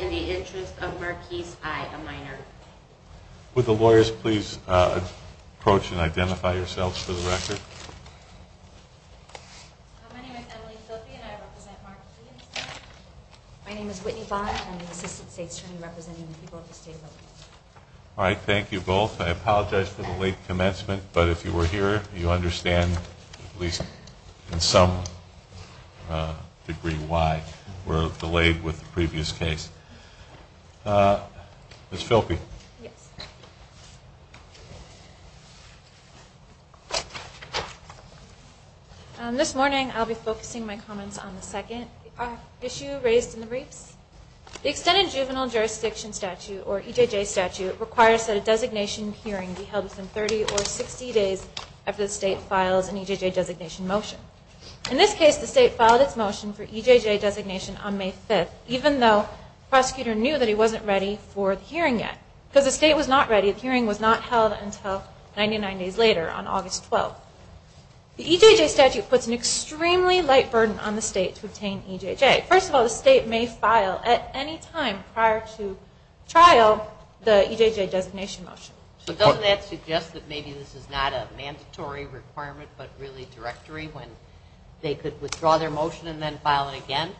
In the Interest of Marquis I, a minor. Would the lawyers please approach and identify yourselves for the record? My name is Emily Filpi and I represent Marquis. My name is Whitney Bond and I'm the Assistant State Attorney representing the people of the state of Milwaukee. All right, thank you both. I apologize for the late commencement, but if you were here, you understand, at least in some degree, why we're delayed with the previous case. Ms. Filpi. This morning I'll be focusing my comments on the second issue raised in the briefs. The Extended Juvenile Jurisdiction Statute, or EJJ statute, requires that a designation hearing be held within 30 or 60 days after the state files an EJJ designation motion. In this case, the state filed its motion for EJJ designation on May 5th, even though the prosecutor knew that he wasn't ready for the hearing yet. Because the state was not ready, the hearing was not held until 99 days later on August 12th. The EJJ statute puts an extremely light burden on the state to obtain EJJ. First of all, the state may file, at any time prior to trial, the EJJ designation motion. So doesn't that suggest that maybe this is not a mandatory requirement, but really directory, when they could withdraw their motion and then file it again?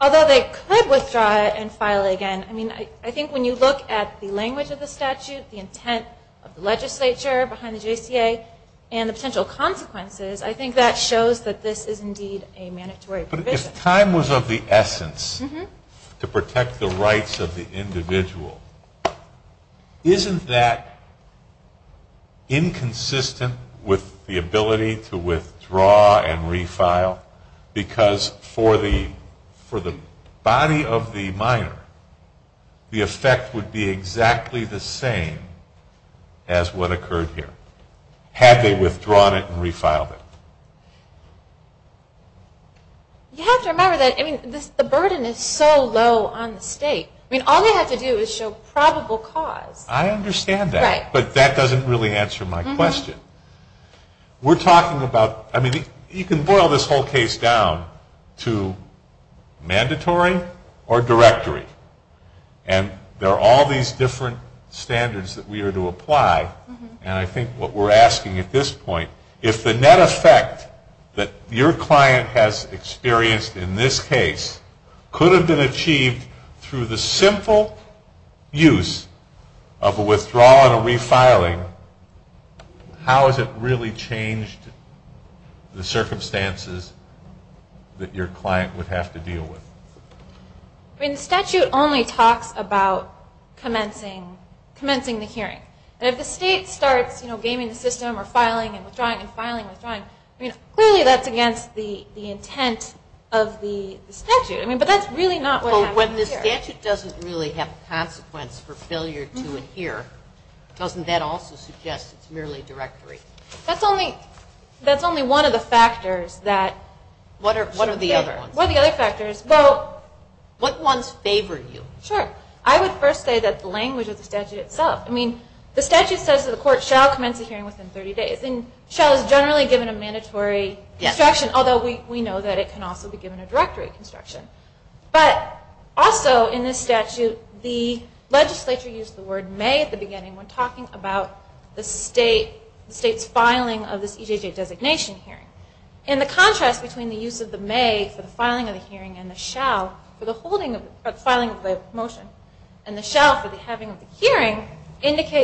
Although they could withdraw it and file it again, I mean, I think when you look at the language of the statute, the intent of the legislature behind the JCA, and the potential consequences, I think that shows that this is indeed a mandatory provision. But if time was of the essence to protect the rights of the individual, isn't that inconsistent with the ability to withdraw and refile? Because for the body of the minor, the effect would be exactly the same as what occurred here, had they withdrawn it and refiled it. You have to remember that, I mean, the burden is so low on the state. I mean, all they have to do is show probable cause. I understand that. Right. But that doesn't really answer my question. We're talking about, I mean, you can boil this whole case down to mandatory or directory. And there are all these different standards that we are to apply. And I think what we're asking at this point, if the net effect that your client has experienced in this case could have been achieved through the simple use of a withdrawal and a refiling, how has it really changed the circumstances that your client would have to deal with? I mean, the statute only talks about commencing the hearing. And if the state starts, you know, gaming the system or filing and withdrawing and filing and withdrawing, I mean, clearly that's against the intent of the statute. I mean, but that's really not what happened here. But when the statute doesn't really have a consequence for failure to adhere, doesn't that also suggest it's merely directory? That's only one of the factors that – What are the other ones? What are the other factors? Well – What ones favor you? Sure. I would first say that the language of the statute itself. I mean, the statute says that the court shall commence a hearing within 30 days. And shall is generally given a mandatory construction, although we know that it can also be given a directory construction. But also in this statute, the legislature used the word may at the beginning when talking about the state's filing of this EJJ designation hearing. And the contrast between the use of the may for the filing of the hearing and the shall for the filing of the motion and the shall for the having of the hearing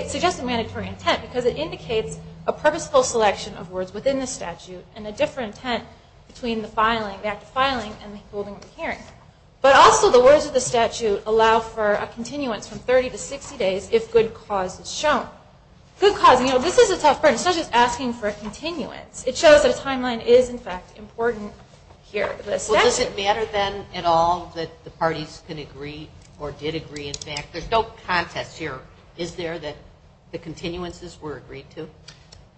suggests a mandatory intent because it indicates a purposeful selection of words within the statute and a different intent between the filing, the act of filing, and the holding of the hearing. But also the words of the statute allow for a continuance from 30 to 60 days if good cause is shown. Good cause, you know, this is a tough burden. It's not just asking for a continuance. It shows that a timeline is, in fact, important here. Well, does it matter, then, at all that the parties can agree or did agree, in fact? There's no contest here. Is there that the continuances were agreed to?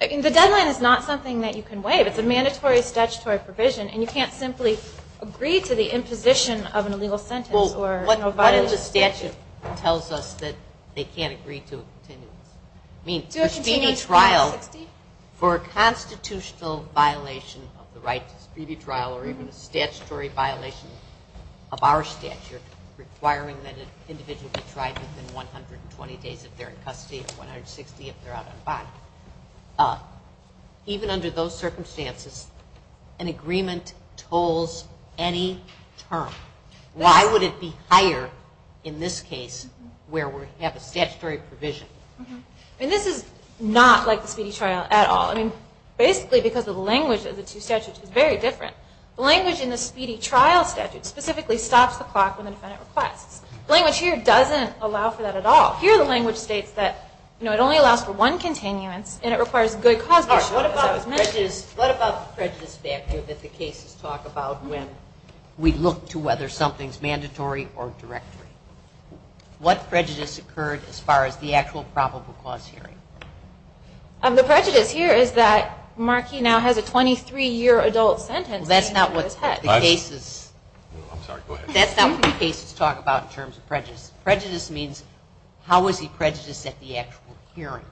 The deadline is not something that you can waive. It's a mandatory statutory provision, and you can't simply agree to the imposition of an illegal sentence. Well, what is the statute that tells us that they can't agree to a continuance? Do a continuance for 60? For a constitutional violation of the right to speedy trial or even a statutory violation of our statute requiring that an individual be tried within 120 days if they're in custody and 160 if they're out on bond. Even under those circumstances, an agreement tolls any term. Why would it be higher in this case where we have a statutory provision? And this is not like the speedy trial at all. I mean, basically because the language of the two statutes is very different. The language in the speedy trial statute specifically stops the clock when the defendant requests. The language here doesn't allow for that at all. Here the language states that, you know, it only allows for one continuance, and it requires good cause to be shown. What about the prejudice factor that the cases talk about when we look to whether something's mandatory or directory? What prejudice occurred as far as the actual probable cause hearing? The prejudice here is that Markey now has a 23-year adult sentence. Well, that's not what the cases talk about in terms of prejudice. Prejudice means how was he prejudiced at the actual hearing?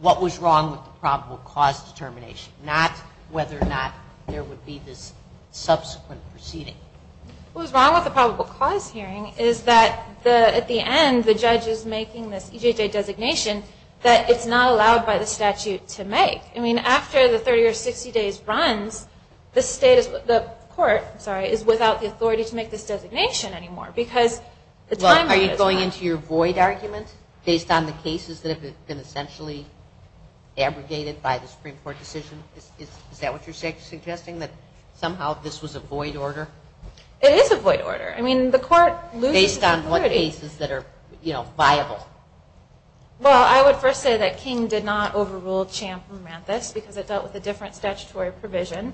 What was wrong with the probable cause determination? Not whether or not there would be this subsequent proceeding. What was wrong with the probable cause hearing is that at the end, the judge is making this EJJ designation that it's not allowed by the statute to make. I mean, after the 30 or 60 days runs, the court is without the authority to make this designation anymore because the time limit is up. Are you going into your void argument based on the cases that have been essentially abrogated by the Supreme Court decision? Is that what you're suggesting, that somehow this was a void order? It is a void order. I mean, the court loses its authority. Based on what cases that are, you know, viable. Well, I would first say that King did not overrule Champ and Manthis because it dealt with a different statutory provision.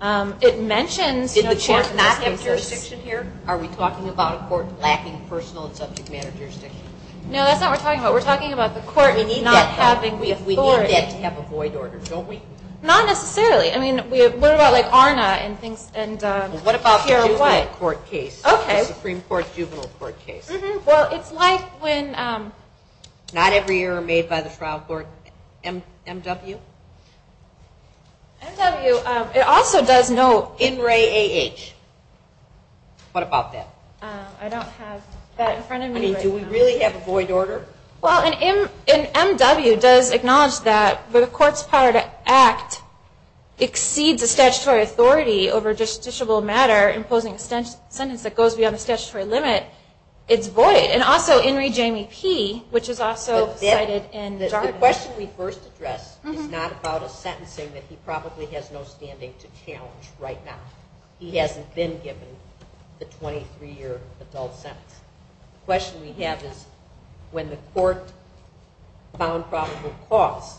It mentions, you know, Champ and Manthis cases. Did the Champ not have jurisdiction here? Are we talking about a court lacking personal and subject matter jurisdiction? No, that's not what we're talking about. We're talking about the court not having authority. We need that to have a void order, don't we? Not necessarily. I mean, what about like ARNA and things? Well, what about the juvenile court case? Okay. The Supreme Court juvenile court case? Mm-hmm. Well, it's like when- Not every year are made by the trial court. MW? MW, it also does no- What about that? I don't have that in front of me right now. I mean, do we really have a void order? Well, MW does acknowledge that the court's power to act exceeds the statutory authority over justiciable matter imposing a sentence that goes beyond the statutory limit. It's void. And also, In re Jamie P., which is also cited in jargon. The question we first addressed is not about a sentencing that he probably has no standing to challenge right now. He hasn't been given the 23-year adult sentence. The question we have is when the court found probable cause,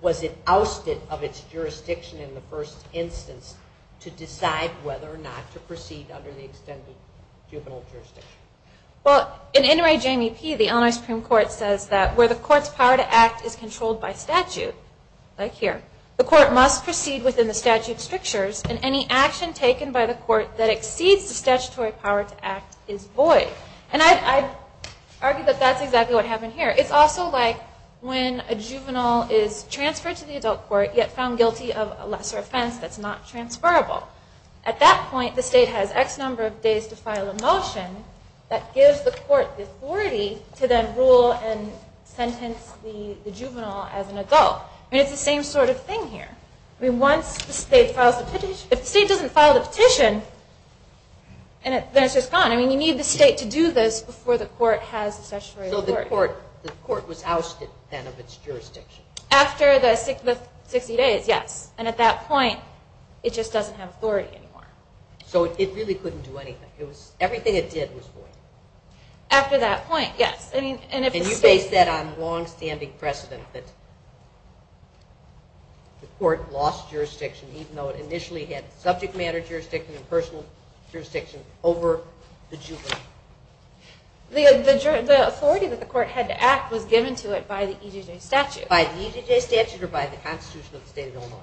was it ousted of its jurisdiction in the first instance to decide whether or not to proceed under the extended juvenile jurisdiction? Well, in In re Jamie P., the Illinois Supreme Court says that where the court's power to act is controlled by statute, like here, the court must proceed within the statute's strictures, and any action taken by the court that exceeds the statutory power to act is void. And I'd argue that that's exactly what happened here. It's also like when a juvenile is transferred to the adult court yet found guilty of a lesser offense that's not transferable. At that point, the state has X number of days to file a motion that gives the court the authority to then rule and sentence the juvenile as an adult. It's the same sort of thing here. Once the state files the petition, if the state doesn't file the petition, then it's just gone. You need the state to do this before the court has the statutory authority. So the court was ousted then of its jurisdiction? After the 60 days, yes. And at that point, it just doesn't have authority anymore. So it really couldn't do anything. Everything it did was void? After that point, yes. Can you base that on longstanding precedent that the court lost jurisdiction even though it initially had subject matter jurisdiction and personal jurisdiction over the juvenile? The authority that the court had to act was given to it by the EJJ statute. By the EJJ statute or by the Constitution of the state of Illinois?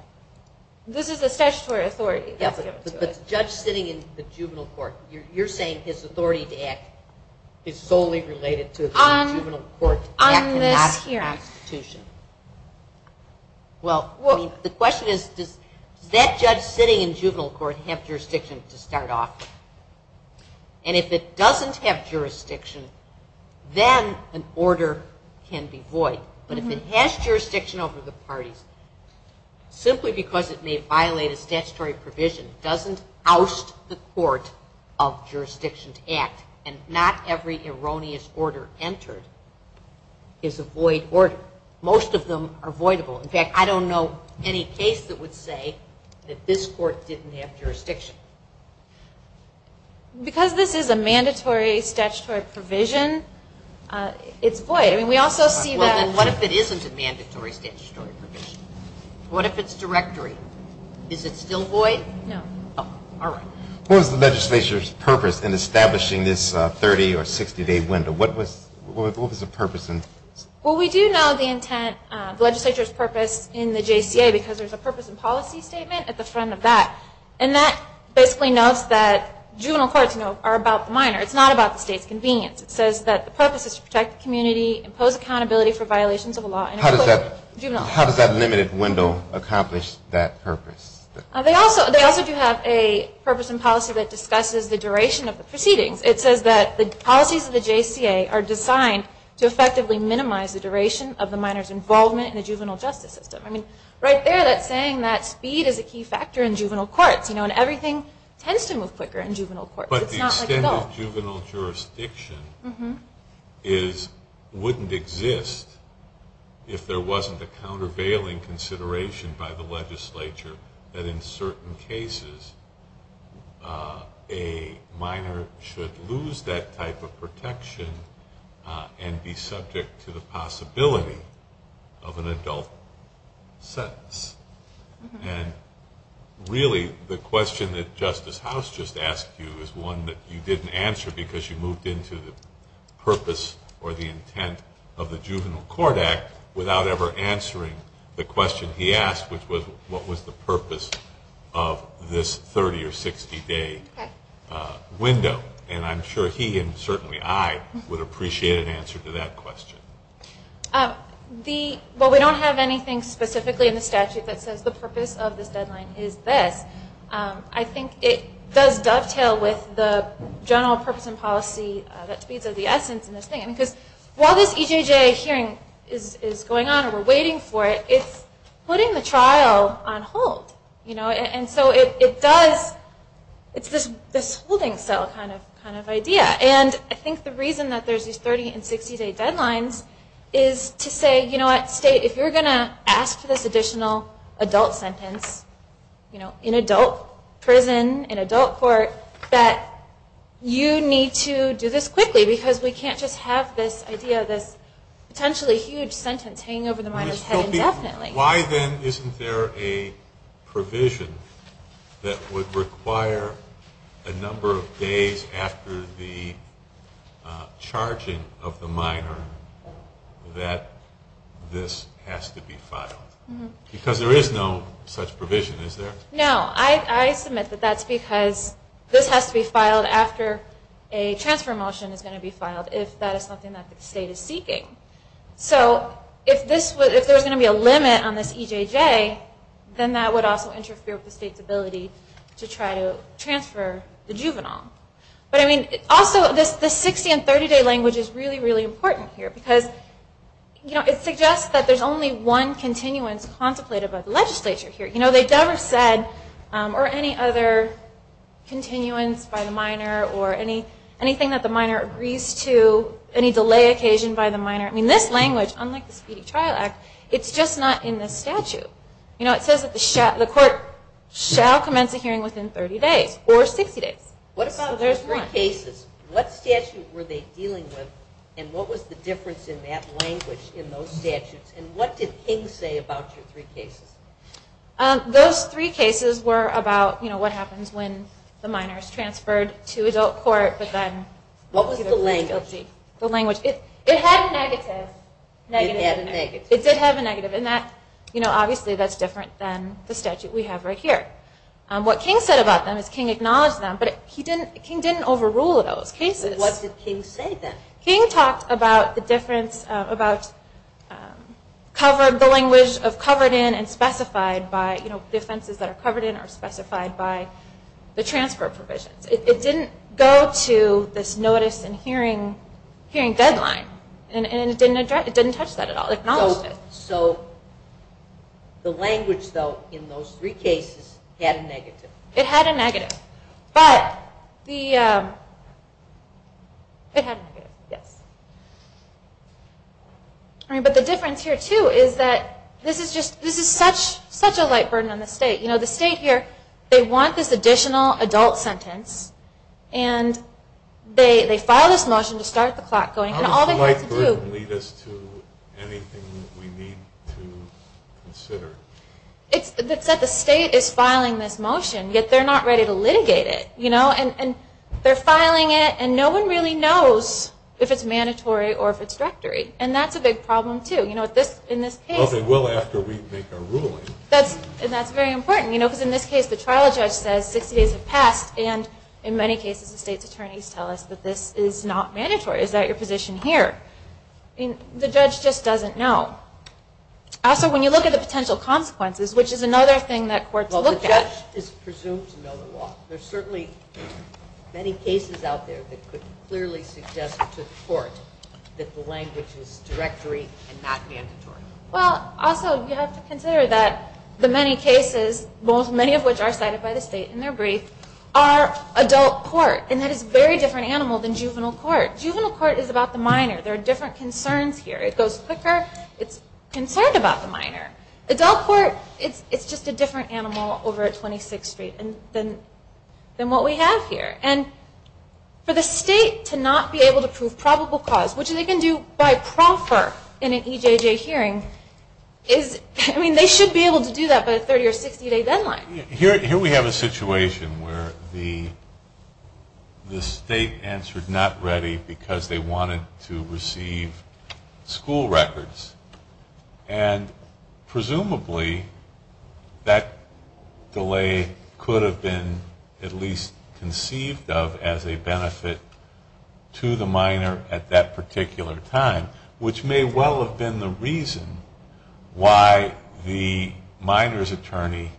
This is the statutory authority that's given to it. But the judge sitting in the juvenile court, you're saying his authority to act is solely related to the juvenile court to act and not the Constitution? Well, the question is does that judge sitting in juvenile court have jurisdiction to start off? And if it doesn't have jurisdiction, then an order can be void. But if it has jurisdiction over the parties, simply because it may violate a statutory provision doesn't oust the court of jurisdiction to act. And not every erroneous order entered is a void order. Most of them are voidable. In fact, I don't know any case that would say that this court didn't have jurisdiction. Because this is a mandatory statutory provision, it's void. I mean, we also see that. Well, then what if it isn't a mandatory statutory provision? What if it's directory? Is it still void? No. Oh, all right. What was the legislature's purpose in establishing this 30- or 60-day window? What was the purpose? Well, we do know the intent, the legislature's purpose in the JCA because there's a purpose and policy statement at the front of that. And that basically notes that juvenile courts are about the minor. It's not about the state's convenience. It says that the purpose is to protect the community, impose accountability for violations of the law, and include juveniles. How does that limited window accomplish that purpose? They also do have a purpose and policy that discusses the duration of the proceedings. It says that the policies of the JCA are designed to effectively minimize the duration of the minor's involvement in the juvenile justice system. I mean, right there, that's saying that speed is a key factor in juvenile courts. You know, and everything tends to move quicker in juvenile courts. But the extent of juvenile jurisdiction wouldn't exist if there wasn't a countervailing consideration by the legislature that in certain cases a minor should lose that type of protection and be subject to the possibility of an adult sentence. And really the question that Justice House just asked you is one that you didn't answer because you moved into the purpose or the intent of the Juvenile Court Act without ever answering the question he asked, which was what was the purpose of this 30- or 60-day window. And I'm sure he, and certainly I, would appreciate an answer to that question. Well, we don't have anything specifically in the statute that says the purpose of this deadline is this. I think it does dovetail with the general purpose and policy that speaks of the essence of this thing. Because while this EJJ hearing is going on and we're waiting for it, it's putting the trial on hold. And so it does, it's this holding cell kind of idea. And I think the reason that there's these 30- and 60-day deadlines is to say, you know what, State, if you're going to ask for this additional adult sentence, in adult prison, in adult court, that you need to do this quickly because we can't just have this idea of this potentially huge sentence hanging over the minor's head indefinitely. Why then isn't there a provision that would require a number of days after the charging of the minor that this has to be filed? Because there is no such provision, is there? No, I submit that that's because this has to be filed after a transfer motion is going to be filed, if that is something that the State is seeking. So if there's going to be a limit on this EJJ, then that would also interfere with the State's ability to try to transfer the juvenile. But also, this 60- and 30-day language is really, really important here because it suggests that there's only one continuance contemplated by the legislature here. They've never said, or any other continuance by the minor or anything that the minor agrees to, any delay occasion by the minor. This language, unlike the Speedy Trial Act, it's just not in this statute. It says that the court shall commence a hearing within 30 days or 60 days. What about those three cases? What statute were they dealing with, and what was the difference in that language in those statutes? And what did King say about your three cases? Those three cases were about what happens when the minor is transferred to adult court, but then... What was the language? It had a negative. It did have a negative. Obviously, that's different than the statute we have right here. What King said about them is King acknowledged them, but King didn't overrule those cases. What did King say then? King talked about the difference about the language of covered in and specified by the offenses that are covered in are specified by the transfer provisions. It didn't go to this notice and hearing deadline. It didn't touch that at all. So the language, though, in those three cases had a negative. It had a negative. But the difference here, too, is that this is such a light burden on the state. The state here, they want this additional adult sentence, and they file this motion to start the clock going. How does the light burden lead us to anything that we need to consider? It's that the state is filing this motion, yet they're not ready to litigate it. They're filing it, and no one really knows if it's mandatory or if it's directory, and that's a big problem, too. In this case... Well, they will after we make a ruling. That's very important, because in this case the trial judge says 60 days have passed, is that your position here? The judge just doesn't know. Also, when you look at the potential consequences, which is another thing that courts look at... Well, the judge is presumed to know the law. There are certainly many cases out there that could clearly suggest to the court that the language is directory and not mandatory. Well, also, you have to consider that the many cases, many of which are cited by the state in their brief, are adult court, and that is a very different animal than juvenile court. Juvenile court is about the minor. There are different concerns here. It goes quicker. It's concerned about the minor. Adult court, it's just a different animal over at 26th Street than what we have here. And for the state to not be able to prove probable cause, which they can do by proffer in an EJJ hearing, they should be able to do that by a 30- or 60-day deadline. Here we have a situation where the state answered not ready because they wanted to receive school records, and presumably that delay could have been at least conceived of as a benefit to the minor at that particular time, which may well have been the reason why the minor's attorney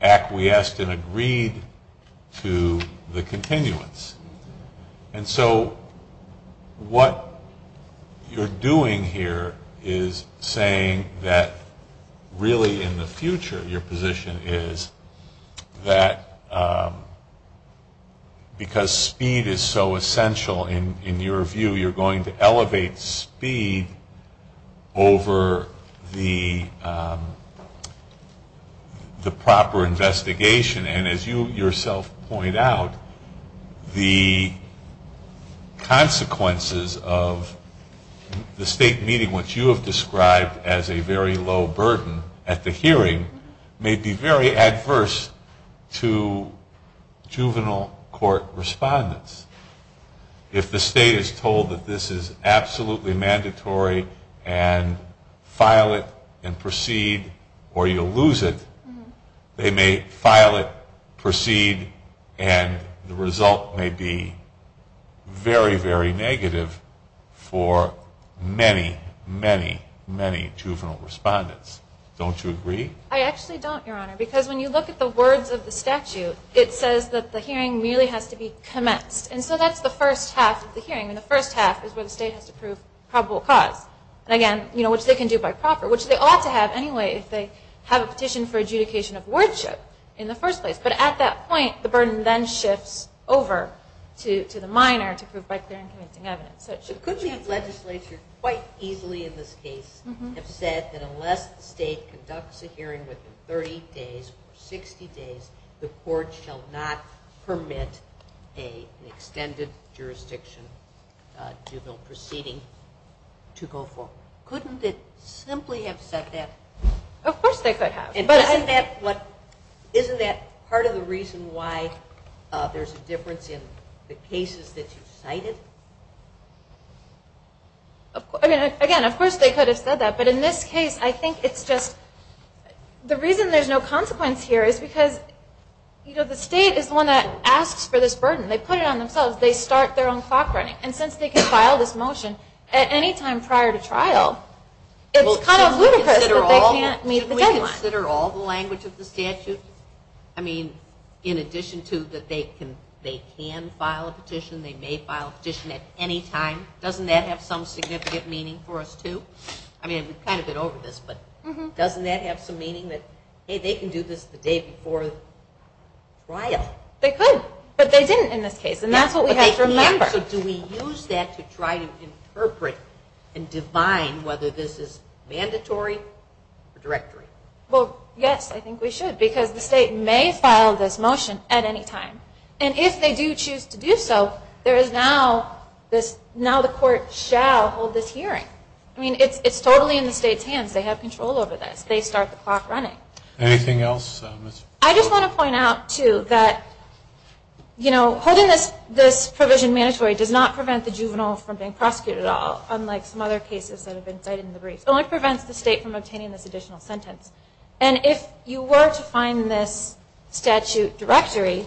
acquiesced and agreed to the continuance. And so what you're doing here is saying that really in the future, your position is that because speed is so essential in your view, you're going to elevate speed over the proper investigation. And as you yourself point out, the consequences of the state meeting, which you have described as a very low burden at the hearing, may be very adverse to juvenile court respondents. If the state is told that this is absolutely mandatory and file it and proceed or you'll lose it, they may file it, proceed, and the result may be very, very negative for many, many, many juvenile respondents. Don't you agree? I actually don't, Your Honor, because when you look at the words of the statute, it says that the hearing merely has to be commenced. And so that's the first half of the hearing, and the first half is where the state has to prove probable cause, which they can do by proffer, which they ought to have anyway if they have a petition for adjudication of wordship in the first place. But at that point, the burden then shifts over to the minor to prove by clear and convincing evidence. It could be that legislature quite easily in this case have said that unless the state conducts a hearing within 30 days or 60 days, the court shall not permit an extended jurisdiction juvenile proceeding to go forward. Couldn't it simply have said that? Of course they could have. But isn't that part of the reason why there's a difference in the cases that you cited? Again, of course they could have said that. But in this case, I think it's just the reason there's no consequence here is because the state is the one that asks for this burden. They put it on themselves. They start their own clock running. And since they can file this motion at any time prior to trial, it's kind of ludicrous that they can't meet the deadline. Shouldn't we consider all the language of the statute? I mean, in addition to that they can file a petition, they may file a petition at any time, doesn't that have some significant meaning for us too? I mean, we've kind of been over this, but doesn't that have some meaning that, hey, they can do this the day before trial? They could, but they didn't in this case, and that's what we have to remember. Do we use that to try to interpret and define whether this is mandatory or directory? Well, yes, I think we should because the state may file this motion at any time. And if they do choose to do so, I mean, it's totally in the state's hands. They have control over this. They start the clock running. Anything else? I just want to point out too that, you know, holding this provision mandatory does not prevent the juvenile from being prosecuted at all, unlike some other cases that have been cited in the brief. It only prevents the state from obtaining this additional sentence. And if you were to find this statute directory,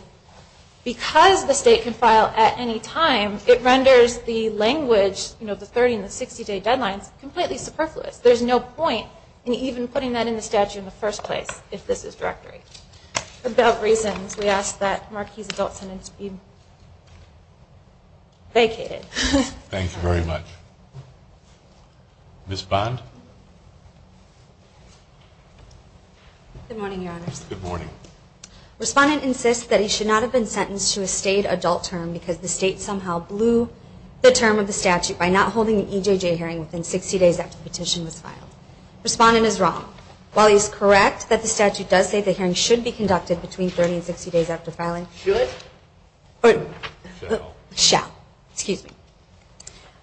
because the state can file at any time, it renders the language, you know, the 30- and the 60-day deadlines completely superfluous. There's no point in even putting that in the statute in the first place if this is directory. Without reasons, we ask that Marquis' adult sentence be vacated. Thank you very much. Ms. Bond? Good morning, Your Honors. Good morning. Respondent insists that he should not have been sentenced to a state adult term because the state somehow blew the term of the statute by not holding an EJJ hearing within 60 days after the petition was filed. Respondent is wrong. While he is correct that the statute does say the hearing should be conducted between 30 and 60 days after filing. Should? Shall. Shall. Excuse me.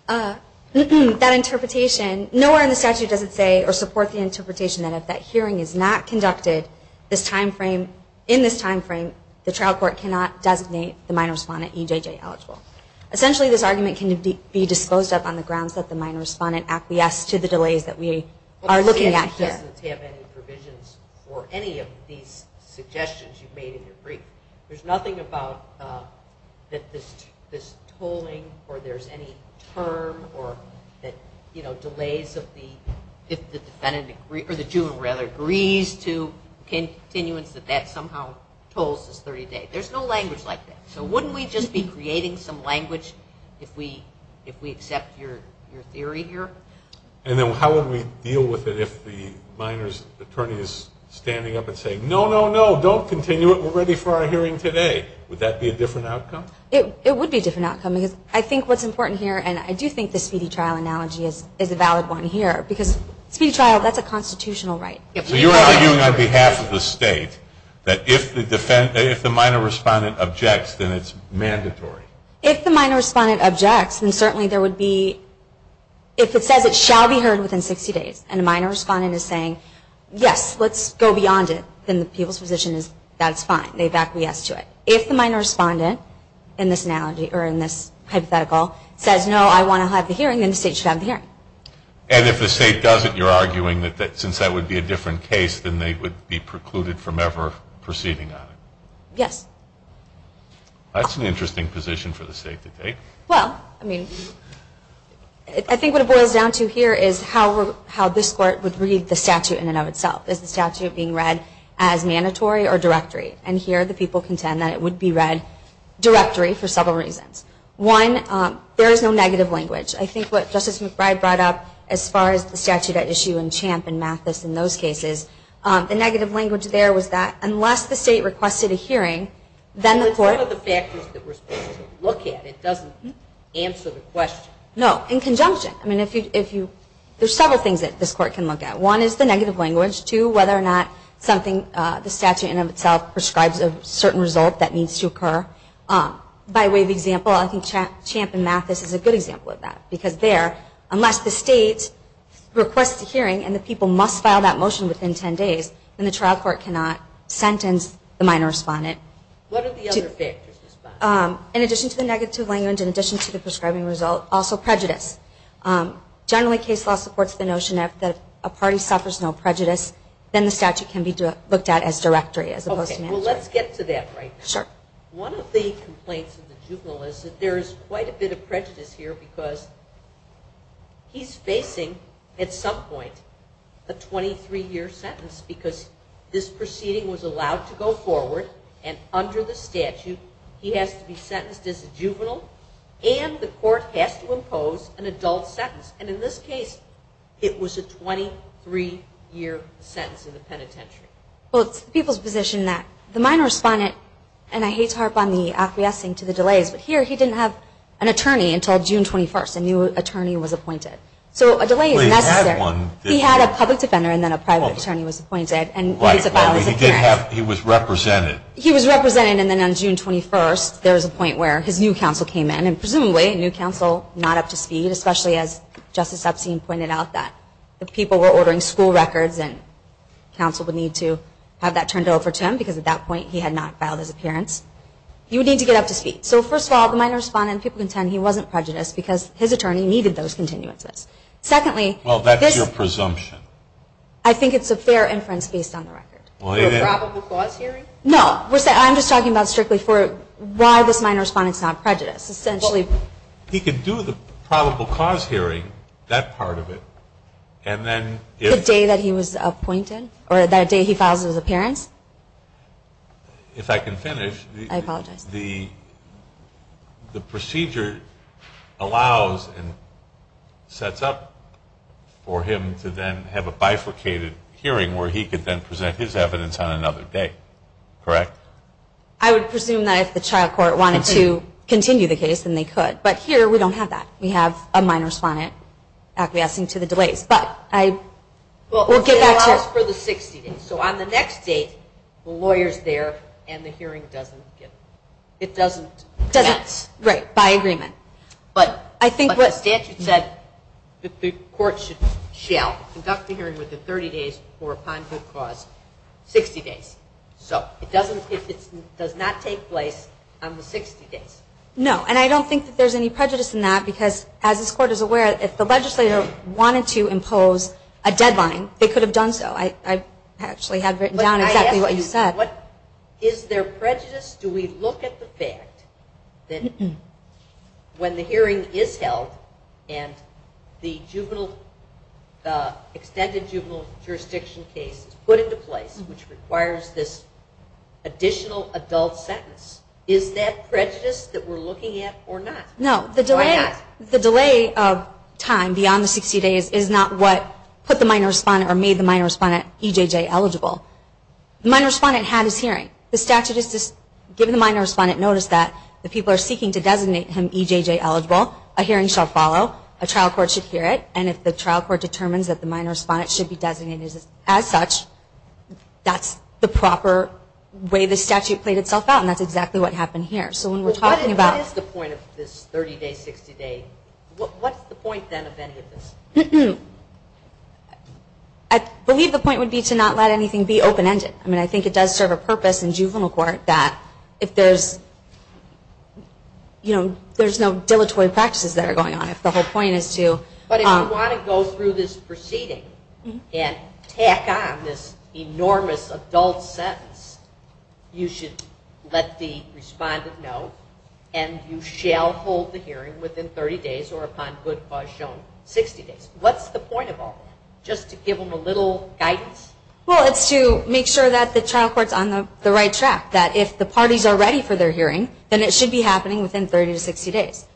That interpretation, nowhere in the statute does it say or support the interpretation that if that hearing is not conducted in this timeframe, the trial court cannot designate the minor respondent EJJ eligible. Essentially, this argument can be disposed of on the grounds that the minor respondent acquiesced to the delays that we are looking at here. The statute doesn't have any provisions for any of these suggestions you made in your brief. There's nothing about that this tolling or there's any term or that, you know, delays of the, if the defendant, or the juvenile rather, agrees to continuance that that somehow tolls this 30-day. There's no language like that. So wouldn't we just be creating some language if we accept your theory here? And then how would we deal with it if the minor's attorney is standing up and saying, no, no, no, don't continue it. We're ready for our hearing today. Would that be a different outcome? It would be a different outcome because I think what's important here, and I do think the speedy trial analogy is a valid one here, because speedy trial, that's a constitutional right. So you're arguing on behalf of the state that if the minor respondent objects, then it's mandatory. If the minor respondent objects, then certainly there would be, if it says it shall be heard within 60 days and the minor respondent is saying, yes, let's go beyond it, then the people's position is that's fine. They back the yes to it. If the minor respondent in this analogy or in this hypothetical says, no, I want to have the hearing, then the state should have the hearing. And if the state doesn't, you're arguing that since that would be a different case, then they would be precluded from ever proceeding on it? Yes. That's an interesting position for the state to take. Well, I mean, I think what it boils down to here is how this court would read the statute in and of itself. Is the statute being read as mandatory or directory? And here the people contend that it would be read directory for several reasons. One, there is no negative language. I think what Justice McBride brought up as far as the statute at issue in Champ and Mathis in those cases, the negative language there was that unless the state requested a hearing, then the court- But it's one of the factors that we're supposed to look at. It doesn't answer the question. No, in conjunction. I mean, there's several things that this court can look at. One is the negative language. Two, whether or not something, the statute in and of itself, prescribes a certain result that needs to occur. By way of example, I think Champ and Mathis is a good example of that because there, unless the state requests a hearing and the people must file that motion within 10 days, then the trial court cannot sentence the minor respondent. What are the other factors? In addition to the negative language, in addition to the prescribing result, also prejudice. Generally, case law supports the notion that if a party suffers no prejudice, then the statute can be looked at as directory as opposed to mandatory. Well, let's get to that right now. One of the complaints of the juvenile is that there is quite a bit of prejudice here because he's facing, at some point, a 23-year sentence because this proceeding was allowed to go forward, and under the statute, he has to be sentenced as a juvenile, and the court has to impose an adult sentence. And in this case, it was a 23-year sentence in the penitentiary. Well, it's the people's position that the minor respondent, and I hate to harp on the acquiescing to the delays, but here he didn't have an attorney until June 21st, a new attorney was appointed. So a delay is necessary. He had one. He had a public defender and then a private attorney was appointed. Right, but he did have, he was represented. He was represented, and then on June 21st, there was a point where his new counsel came in, and presumably a new counsel, not up to speed, especially as Justice Epstein pointed out, that the people were ordering school records, and counsel would need to have that turned over to him because at that point he had not filed his appearance. He would need to get up to speed. So, first of all, the minor respondent, people contend he wasn't prejudiced because his attorney needed those continuances. Secondly, this – Well, that's your presumption. I think it's a fair inference based on the record. For a probable cause hearing? No, I'm just talking about strictly for why this minor respondent's not prejudiced. He could do the probable cause hearing, that part of it, and then if – The day that he was appointed? Or the day he files his appearance? If I can finish. I apologize. The procedure allows and sets up for him to then have a bifurcated hearing where he could then present his evidence on another day, correct? I would presume that if the child court wanted to continue the case, then they could. But here we don't have that. We have a minor respondent acquiescing to the delays. But I – Well, it allows for the 60 days. So on the next day, the lawyer's there and the hearing doesn't get – It doesn't – Doesn't – Right, by agreement. But the statute said that the court should conduct the hearing within 30 days for a probable cause, 60 days. So it doesn't – It does not take place on the 60 days. No. And I don't think that there's any prejudice in that because, as this court is aware, if the legislator wanted to impose a deadline, they could have done so. I actually have written down exactly what you said. But I ask you, what – Is there prejudice? Do we look at the fact that when the hearing is held and the juvenile – which requires this additional adult sentence, is that prejudice that we're looking at or not? No. The delay of time beyond the 60 days is not what put the minor respondent or made the minor respondent EJJ eligible. The minor respondent had his hearing. The statute is just given the minor respondent notice that the people are seeking to designate him EJJ eligible. A hearing shall follow. A trial court should hear it. And if the trial court determines that the minor respondent should be designated as such, that's the proper way the statute played itself out, and that's exactly what happened here. So when we're talking about – Well, what is the point of this 30-day, 60-day – what's the point, then, of any of this? I believe the point would be to not let anything be open-ended. I mean, I think it does serve a purpose in juvenile court that if there's – there's no dilatory practices that are going on. If the whole point is to – But if you want to go through this proceeding and tack on this enormous adult sentence, you should let the respondent know, and you shall hold the hearing within 30 days or, upon good cause shown, 60 days. What's the point of all that? Just to give them a little guidance? Well, it's to make sure that the trial court's on the right track, that if the parties are ready for their hearing, then it should be happening within 30 to 60 days.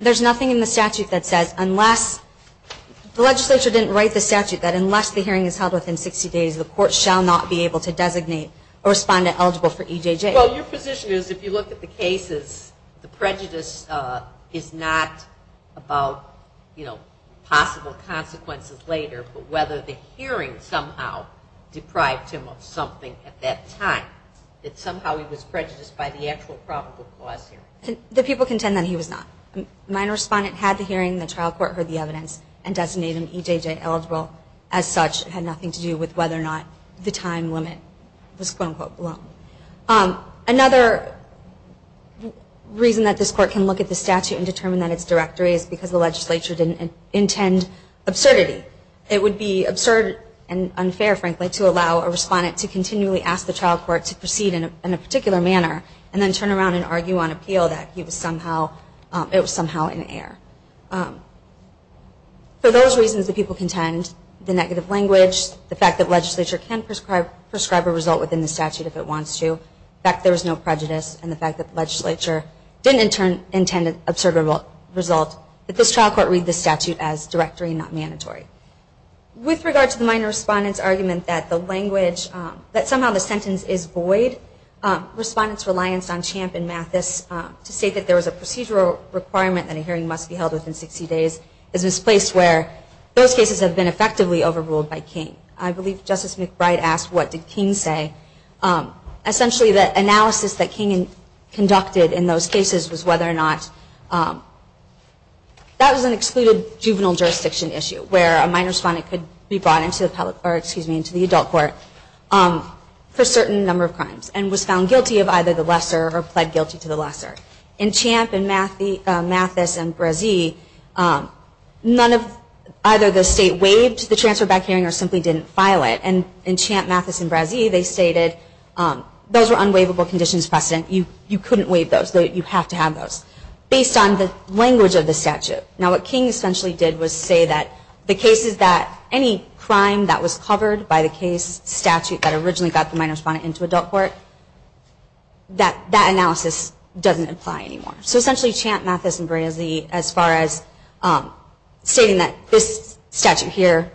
There's nothing in the statute that says unless – the legislature didn't write the statute that unless the hearing is held within 60 days, the court shall not be able to designate a respondent eligible for EJJ. Well, your position is if you look at the cases, the prejudice is not about, you know, possible consequences later, but whether the hearing somehow deprived him of something at that time, that somehow he was prejudiced by the actual probable cause hearing. The people contend that he was not. My respondent had the hearing, the trial court heard the evidence, and designated him EJJ eligible. As such, it had nothing to do with whether or not the time limit was quote-unquote long. Another reason that this court can look at the statute and determine that it's directory is because the legislature didn't intend absurdity. It would be absurd and unfair, frankly, to allow a respondent to continually ask the trial court to proceed in a particular manner and then turn around and argue on appeal that he was somehow – it was somehow in error. For those reasons, the people contend the negative language, the fact that legislature can prescribe a result within the statute if it wants to, the fact that there was no prejudice, and the fact that the legislature didn't intend an absurd result, that this trial court read the statute as directory, not mandatory. With regard to the minor respondent's argument that the language – respondent's reliance on Champ and Mathis to state that there was a procedural requirement that a hearing must be held within 60 days is misplaced where those cases have been effectively overruled by King. I believe Justice McBride asked what did King say. Essentially, the analysis that King conducted in those cases was whether or not – that was an excluded juvenile jurisdiction issue where a minor respondent could be brought into the adult court for a certain number of crimes. And was found guilty of either the lesser or pled guilty to the lesser. In Champ and Mathis and Brazee, none of – either the state waived the transfer back hearing or simply didn't file it. And in Champ, Mathis, and Brazee, they stated those were unwaivable conditions of precedent. You couldn't waive those. You have to have those. Based on the language of the statute. Now what King essentially did was say that the cases that – that originally got the minor respondent into adult court, that analysis doesn't apply anymore. So essentially Champ, Mathis, and Brazee as far as stating that this statute here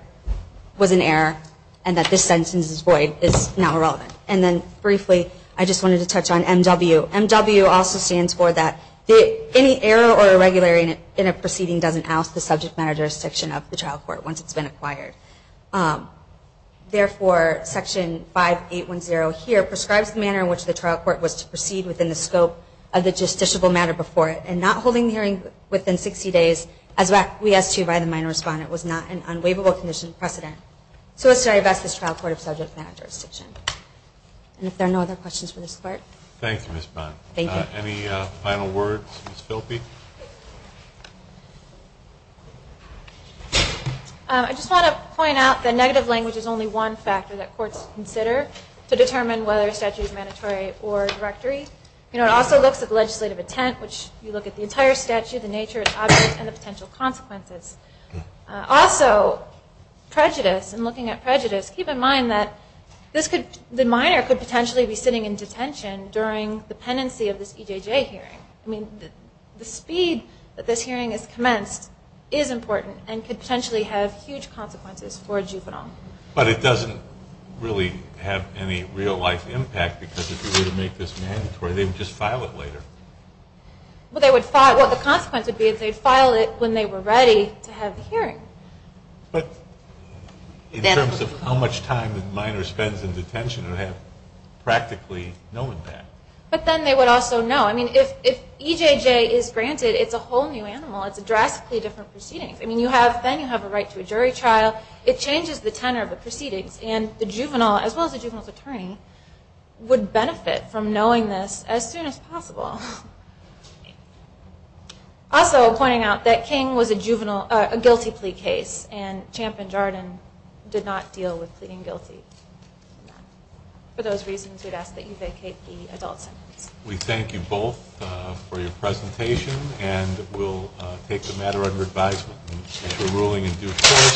was an error and that this sentence is void is not relevant. And then briefly, I just wanted to touch on MW. MW also stands for that any error or irregularity in a proceeding doesn't oust the subject matter jurisdiction of the trial court once it's been acquired. Therefore, section 5810 here prescribes the manner in which the trial court was to proceed within the scope of the justiciable matter before it. And not holding the hearing within 60 days, as we asked to by the minor respondent, was not an unwaivable condition of precedent. So let's try to vest this trial court of subject matter jurisdiction. And if there are no other questions for this court. Thank you, Ms. Bond. Thank you. Any final words, Ms. Philby? I just want to point out that negative language is only one factor that courts consider to determine whether a statute is mandatory or directory. It also looks at legislative intent, which you look at the entire statute, the nature of the object, and the potential consequences. Also, prejudice and looking at prejudice, keep in mind that the minor could potentially be sitting in detention during the pendency of this EJJ hearing. I mean, the speed that this hearing is commenced is important and could potentially have huge consequences for a juvenile. But it doesn't really have any real-life impact because if you were to make this mandatory, they would just file it later. Well, the consequence would be if they filed it when they were ready to have the hearing. But in terms of how much time the minor spends in detention, it would have practically no impact. But then they would also know. I mean, if EJJ is granted, it's a whole new animal. It's a drastically different proceeding. I mean, then you have a right to a jury trial. It changes the tenor of the proceedings. And the juvenile, as well as the juvenile's attorney, would benefit from knowing this as soon as possible. Also, pointing out that King was a guilty plea case and Champ and Jardin did not deal with pleading guilty. For those reasons, we'd ask that you vacate the adult sentence. We thank you both for your presentation. And we'll take the matter under advisement. And if you're ruling in due course.